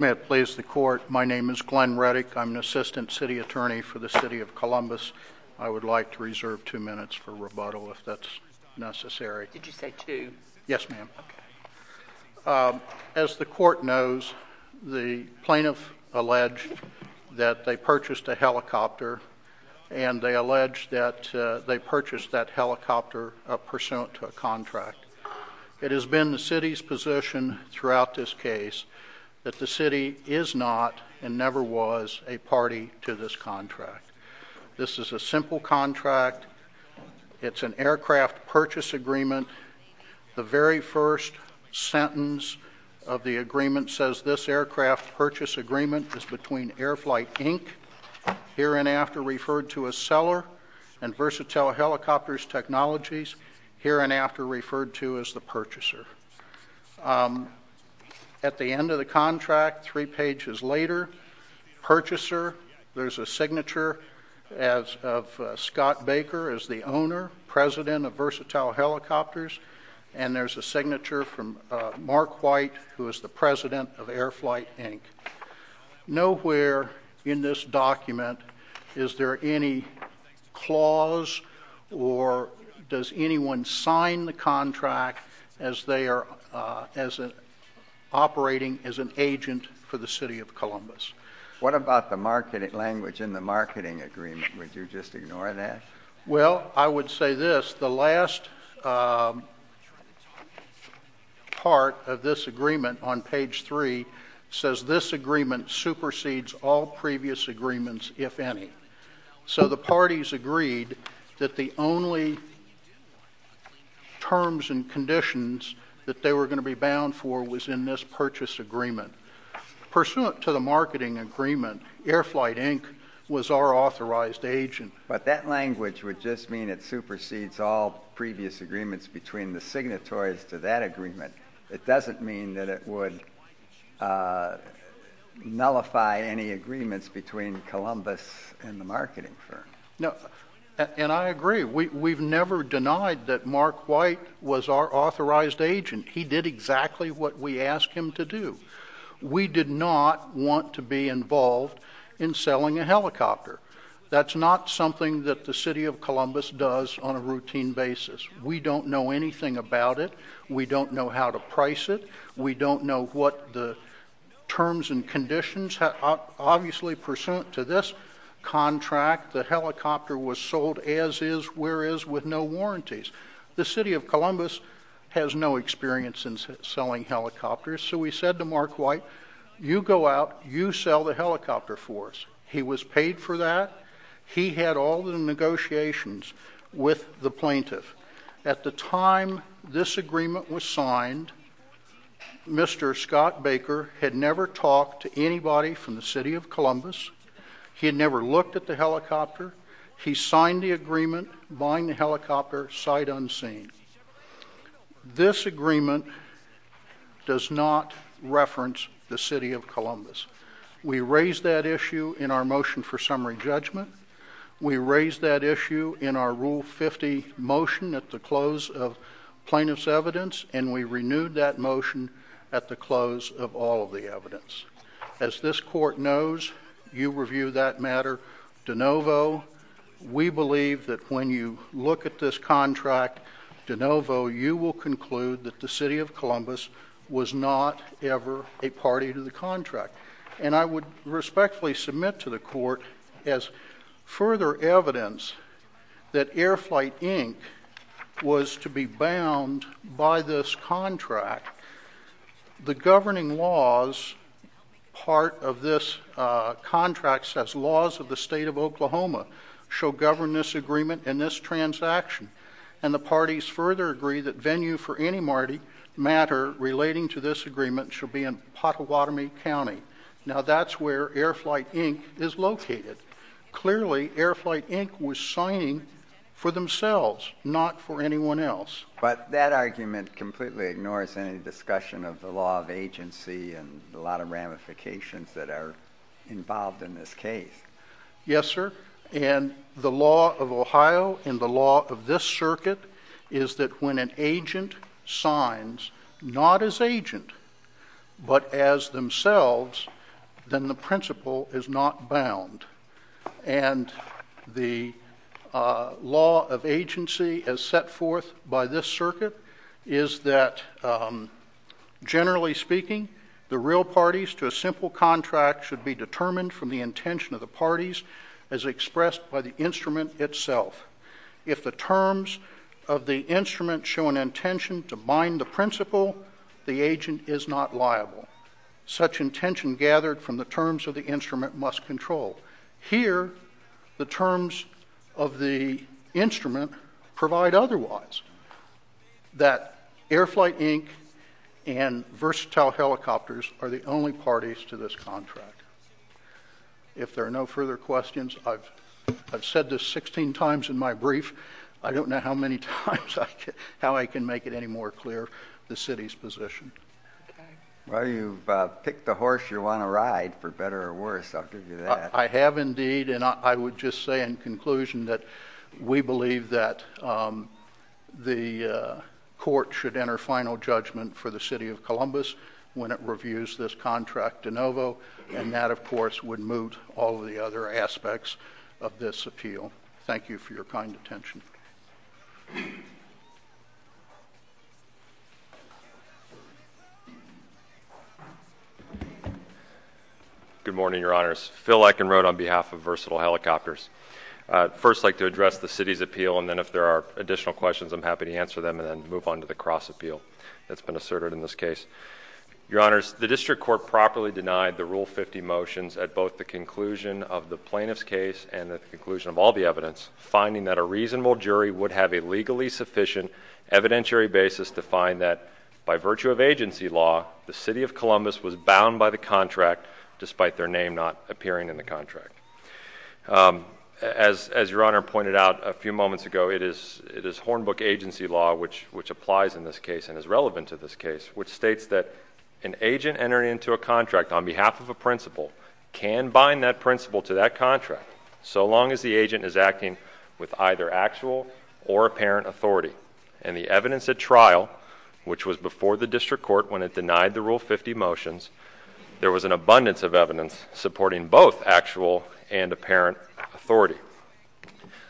May it please the court, my name is Glenn Reddick, I'm an Assistant City Attorney for the City of Columbus, I would like to reserve two minutes for rebuttal if that's necessary. As the court knows, the plaintiff alleged that they purchased a helicopter and they alleged that they purchased that helicopter pursuant to a contract. It has been the City's position throughout this case that the City is not and never was a party to this contract. This is a simple contract, it's an aircraft purchase agreement, the very first sentence of the agreement says this aircraft purchase agreement is between Air Flight Inc, here and after referred to as seller, and Versatile Helicopters Technologies, here and after referred to as the purchaser. At the end of the contract, three pages later, purchaser, there's a signature of Scott Baker as the owner, president of Versatile Helicopters, and there's a signature from Mark White who is the president of Air Flight Inc. Nowhere in this document is there any clause or does anyone sign the contract as they are operating as an agent for the City of Columbus. What about the marketing language in the marketing agreement, would you just ignore that? Well, I would say this, the last part of this agreement on page three says this agreement supersedes all previous agreements, if any. So the parties agreed that the only terms and conditions that they were going to be bound for was in this purchase agreement. Pursuant to the marketing agreement, Air Flight Inc. was our authorized agent. But that language would just mean it supersedes all previous agreements between the signatories to that agreement. It doesn't mean that it would nullify any agreements between Columbus and the marketing firm. No, and I agree, we've never denied that Mark White was our authorized agent. He did exactly what we asked him to do. We did not want to be involved in selling a helicopter. That's not something that the City of Columbus does on a routine basis. We don't know anything about it. We don't know how to price it. We don't know what the terms and conditions, obviously pursuant to this contract, the helicopter was sold as is, where is, with no warranties. The City of Columbus has no experience in selling helicopters. So we said to Mark White, you go out, you sell the helicopter for us. He was paid for that. He had all the negotiations with the plaintiff. At the time this agreement was signed, Mr. Scott Baker had never talked to anybody from the City of Columbus. He had never looked at the helicopter. He signed the agreement buying the helicopter sight unseen. This agreement does not reference the City of Columbus. We raised that issue in our motion for summary judgment. We raised that issue in our Rule 50 motion at the close of plaintiff's evidence, and we renewed that motion at the close of all of the evidence. As this court knows, you review that matter de novo. We believe that when you look at this contract de novo, you will conclude that the City of And I would respectfully submit to the court as further evidence that Air Flight, Inc. was to be bound by this contract. The governing laws, part of this contract says laws of the State of Oklahoma shall govern this agreement and this transaction. And the parties further agree that venue for any matter relating to this agreement shall be in Pottawatomie County. Now that's where Air Flight, Inc. is located. Clearly, Air Flight, Inc. was signing for themselves, not for anyone else. But that argument completely ignores any discussion of the law of agency and a lot of ramifications that are involved in this case. Yes, sir. And the law of Ohio and the law of this circuit is that when an agent signs not as agent but as themselves, then the principle is not bound. And the law of agency as set forth by this circuit is that generally speaking, the real contract should be determined from the intention of the parties as expressed by the instrument itself. If the terms of the instrument show an intention to bind the principle, the agent is not liable. Such intention gathered from the terms of the instrument must control. Here the terms of the instrument provide otherwise, that Air Flight, Inc. and Versatile Helicopters are the only parties to this contract. If there are no further questions, I've said this 16 times in my brief. I don't know how many times I can make it any more clear, the city's position. Well, you've picked the horse you want to ride, for better or worse, I'll give you that. I have indeed, and I would just say in conclusion that we believe that the court should enter final judgment for the City of Columbus when it reviews this contract de novo, and that of course would moot all of the other aspects of this appeal. Thank you for your kind attention. Good morning, Your Honors. Phil Eikenrode on behalf of Versatile Helicopters. First I'd like to address the city's appeal, and then if there are additional questions I'm happy to answer them and then move on to the cross appeal that's been asserted in this case. Your Honors, the district court properly denied the Rule 50 motions at both the conclusion of the plaintiff's case and at the conclusion of all the evidence, finding that a reasonable jury would have a legally sufficient evidentiary basis to find that by virtue of agency law, the City of Columbus was bound by the contract despite their name not appearing in the contract. As Your Honor pointed out a few moments ago, it is Hornbook agency law which applies in this case and is relevant to this case, which states that an agent entering into a contract on behalf of a principal can bind that principal to that contract so long as the agent is acting with either actual or apparent authority, and the evidence at trial, which was before the district court when it denied the Rule 50 motions, there was an abundance of evidence supporting both actual and apparent authority.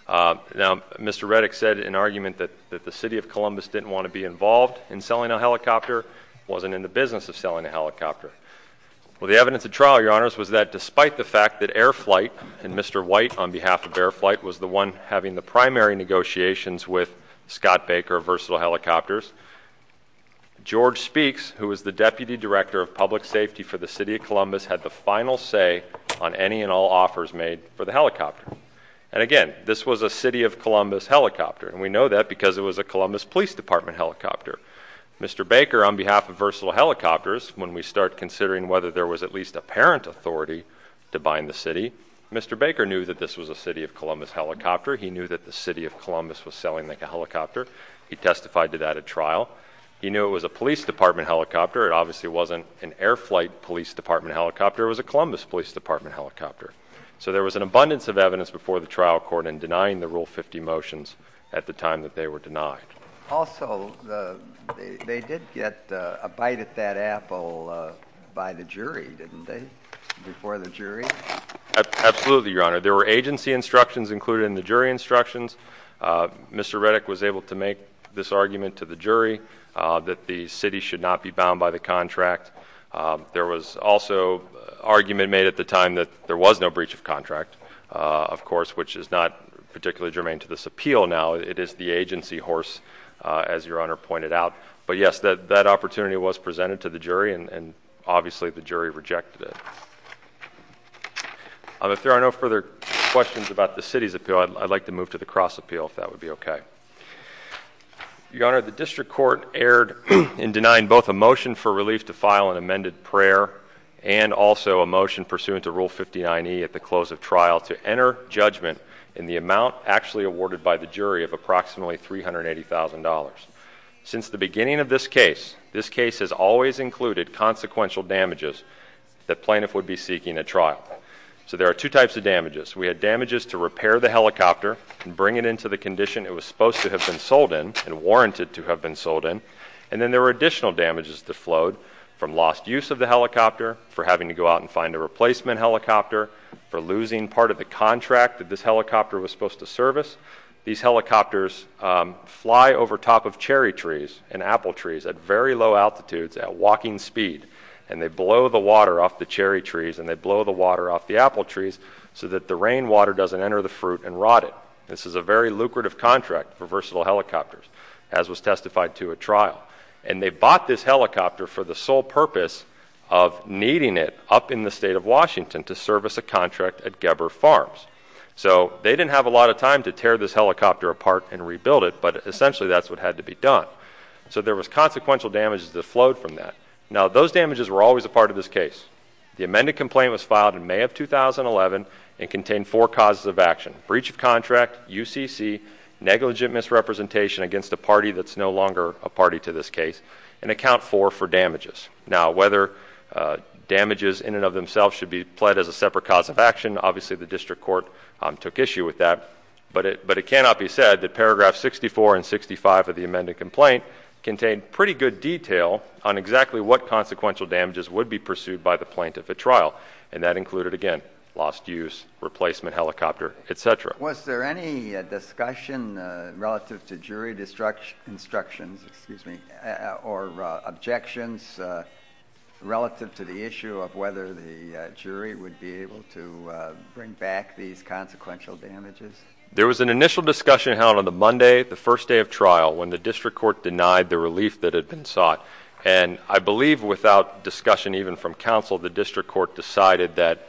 Now, Mr. Reddick said in argument that the City of Columbus didn't want to be involved in selling a helicopter, wasn't in the business of selling a helicopter. Well, the evidence at trial, Your Honors, was that despite the fact that Air Flight and Mr. White on behalf of Air Flight was the one having the primary negotiations with Scott Baker of Versatile Helicopters, George Speaks, who was the Deputy Director of Public Safety for the City of Columbus, had the final say on any and all offers made for the helicopter. And again, this was a City of Columbus helicopter, and we know that because it was a Columbus Police Department helicopter. Mr. Baker on behalf of Versatile Helicopters, when we start considering whether there was at least apparent authority to bind the city, Mr. Baker knew that this was a City of Columbus helicopter. He knew that the City of Columbus was selling the helicopter. He testified to that at trial. He knew it was a Police Department helicopter. It obviously wasn't an Air Flight Police Department helicopter. It was a Columbus Police Department helicopter. So there was an abundance of evidence before the trial court in denying the Rule 50 motions at the time that they were denied. Also, they did get a bite at that apple by the jury, didn't they, before the jury? Absolutely, Your Honor. There were agency instructions included in the jury instructions. Mr. Reddick was able to make this argument to the jury that the city should not be bound by the contract. There was also argument made at the time that there was no breach of contract, of course, which is not particularly germane to this appeal now. It is the agency horse, as Your Honor pointed out. But yes, that opportunity was presented to the jury, and obviously the jury rejected it. If there are no further questions about the city's appeal, I'd like to move to the cross appeal if that would be okay. Your Honor, the district court erred in denying both a motion for relief to file an amended prayer and also a motion pursuant to Rule 59E at the close of trial to enter judgment in the amount actually awarded by the jury of approximately $380,000. Since the beginning of this case, this case has always included consequential damages that plaintiff would be seeking at trial. So there are two types of damages. We had damages to repair the helicopter and bring it into the condition it was supposed to have been sold in and warranted to have been sold in. And then there were additional damages that flowed from lost use of the helicopter, for having to go out and find a replacement helicopter, for losing part of the contract that this helicopter was supposed to service. These helicopters fly over top of cherry trees and apple trees at very low altitudes at walking speed, and they blow the water off the cherry trees and they blow the water off the apple trees so that the rainwater doesn't enter the fruit and rot it. This is a very lucrative contract for versatile helicopters, as was testified to at trial. And they bought this helicopter for the sole purpose of needing it up in the state of Washington to service a contract at Geber Farms. So they didn't have a lot of time to tear this helicopter apart and rebuild it, but essentially that's what had to be done. So there was consequential damages that flowed from that. Now those damages were always a part of this case. The amended complaint was filed in May of 2011 and contained four causes of action. Breach of contract, UCC, negligent misrepresentation against a party that's no longer a party to this case, and account four for damages. Now whether damages in and of themselves should be pled as a separate cause of action, obviously the district court took issue with that. But it cannot be said that paragraph 64 and 65 of the amended complaint contained pretty good detail on exactly what consequential damages would be pursued by the plaintiff at trial. And that included, again, lost use, replacement helicopter, et cetera. Was there any discussion relative to jury instructions, excuse me, or objections relative to the issue of whether the jury would be able to bring back these consequential damages? There was an initial discussion held on the Monday, the first day of trial, when the district court denied the relief that had been sought. And I believe without discussion even from counsel, the district court decided that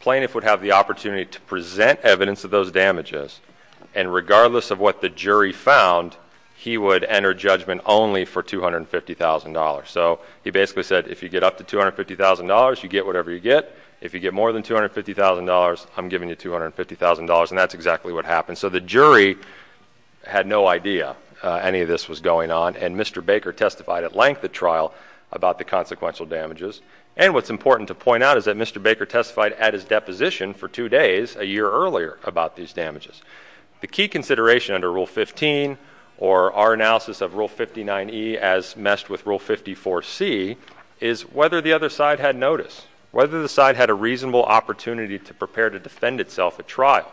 plaintiff would have the opportunity to present evidence of those damages, and regardless of what the jury found, he would enter judgment only for $250,000. So he basically said, if you get up to $250,000, you get whatever you get. If you get more than $250,000, I'm giving you $250,000, and that's exactly what happened. And so the jury had no idea any of this was going on, and Mr. Baker testified at length at trial about the consequential damages. And what's important to point out is that Mr. Baker testified at his deposition for two days, a year earlier, about these damages. The key consideration under Rule 15, or our analysis of Rule 59E as meshed with Rule 54C, is whether the other side had notice, whether the side had a reasonable opportunity to prepare to defend itself at trial.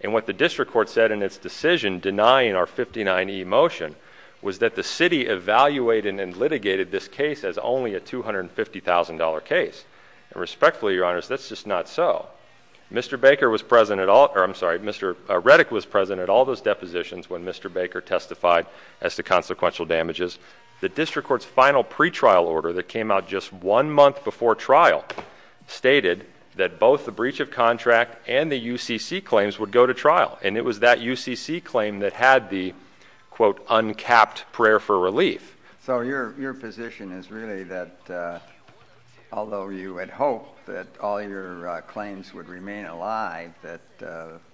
And what the district court said in its decision denying our 59E motion was that the city evaluated and litigated this case as only a $250,000 case. And respectfully, Your Honors, that's just not so. Mr. Baker was present at all, or I'm sorry, Mr. Reddick was present at all those depositions when Mr. Baker testified as to consequential damages. The district court's final pretrial order that came out just one month before trial stated that both the breach of contract and the UCC claims would go to trial. And it was that UCC claim that had the, quote, uncapped prayer for relief. So your position is really that although you had hoped that all your claims would remain alive, that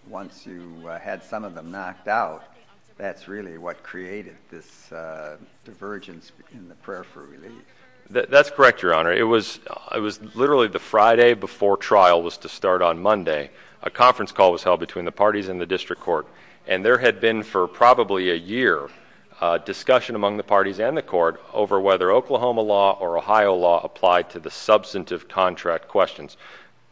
once you had some of them knocked out, that's really what created this divergence in the prayer for relief. That's correct, Your Honor. It was literally the Friday before trial was to start on Monday. A conference call was held between the parties and the district court. And there had been for probably a year a discussion among the parties and the court over whether Oklahoma law or Ohio law applied to the substantive contract questions.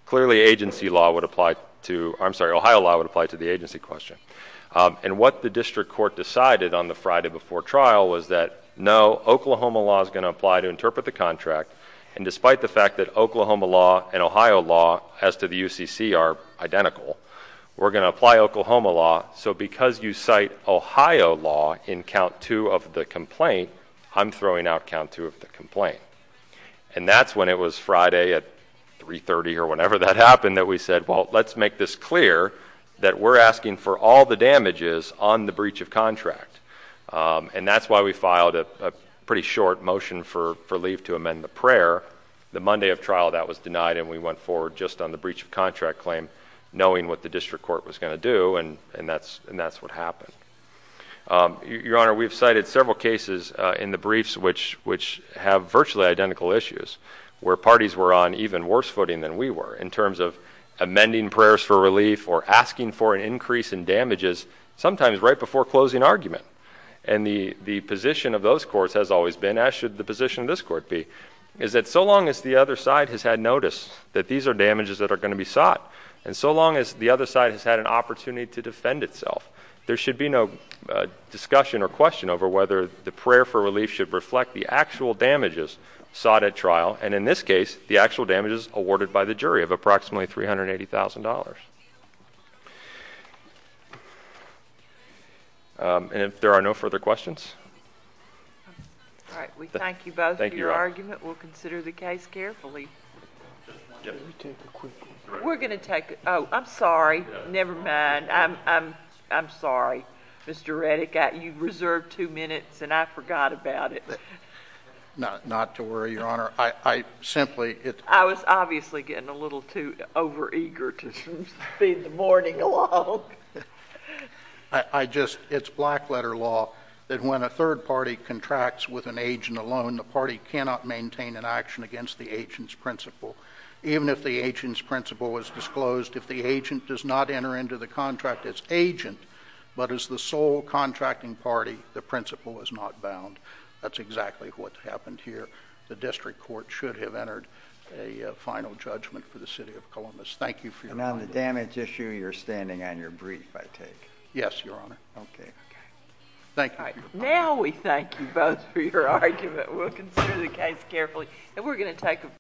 Clearly, agency law would apply to, I'm sorry, Ohio law would apply to the agency question. And what the district court decided on the Friday before trial was that no, Oklahoma law is going to apply to interpret the contract. And despite the fact that Oklahoma law and Ohio law as to the UCC are identical, we're going to apply Oklahoma law. So because you cite Ohio law in count two of the complaint, I'm throwing out count two of the complaint. And that's when it was Friday at 3.30 or whenever that happened that we said, well, let's make this clear that we're asking for all the damages on the breach of contract. And that's why we filed a pretty short motion for relief to amend the prayer. The Monday of trial that was denied and we went forward just on the breach of contract claim knowing what the district court was going to do and that's what happened. Your Honor, we've cited several cases in the briefs which have virtually identical issues where parties were on even worse footing than we were in terms of amending prayers for relief or asking for an increase in damages, sometimes right before closing argument. And the position of those courts has always been, as should the position of this court be, is that so long as the other side has had notice that these are damages that are going to be sought and so long as the other side has had an opportunity to defend itself, there should be no discussion or question over whether the prayer for relief should reflect the actual damages sought at trial and in this case, the actual damages awarded by the jury of approximately $380,000. And if there are no further questions? All right. We thank you both for your argument. Thank you, Your Honor. We'll consider the case carefully. Let me take a quick one. We're going to take it. Oh, I'm sorry. Never mind. I'm sorry. Mr. Reddick, you reserved two minutes and I forgot about it. Not to worry, Your Honor. I simply... I was obviously getting a little too overeager to feed the morning along. It's black letter law that when a third party contracts with an agent alone, the party cannot maintain an action against the agent's principle. Even if the agent's principle is disclosed, if the agent does not enter into the contract as agent but as the sole contracting party, the principle is not bound. That's exactly what happened here. The district court should have entered a final judgment for the city of Columbus. Thank you for your time. And on the damage issue, you're standing on your brief, I take? Yes, Your Honor. Okay. Okay. Thank you. All right. Now we thank you both for your argument. We'll consider the case carefully. And we're going to take a break.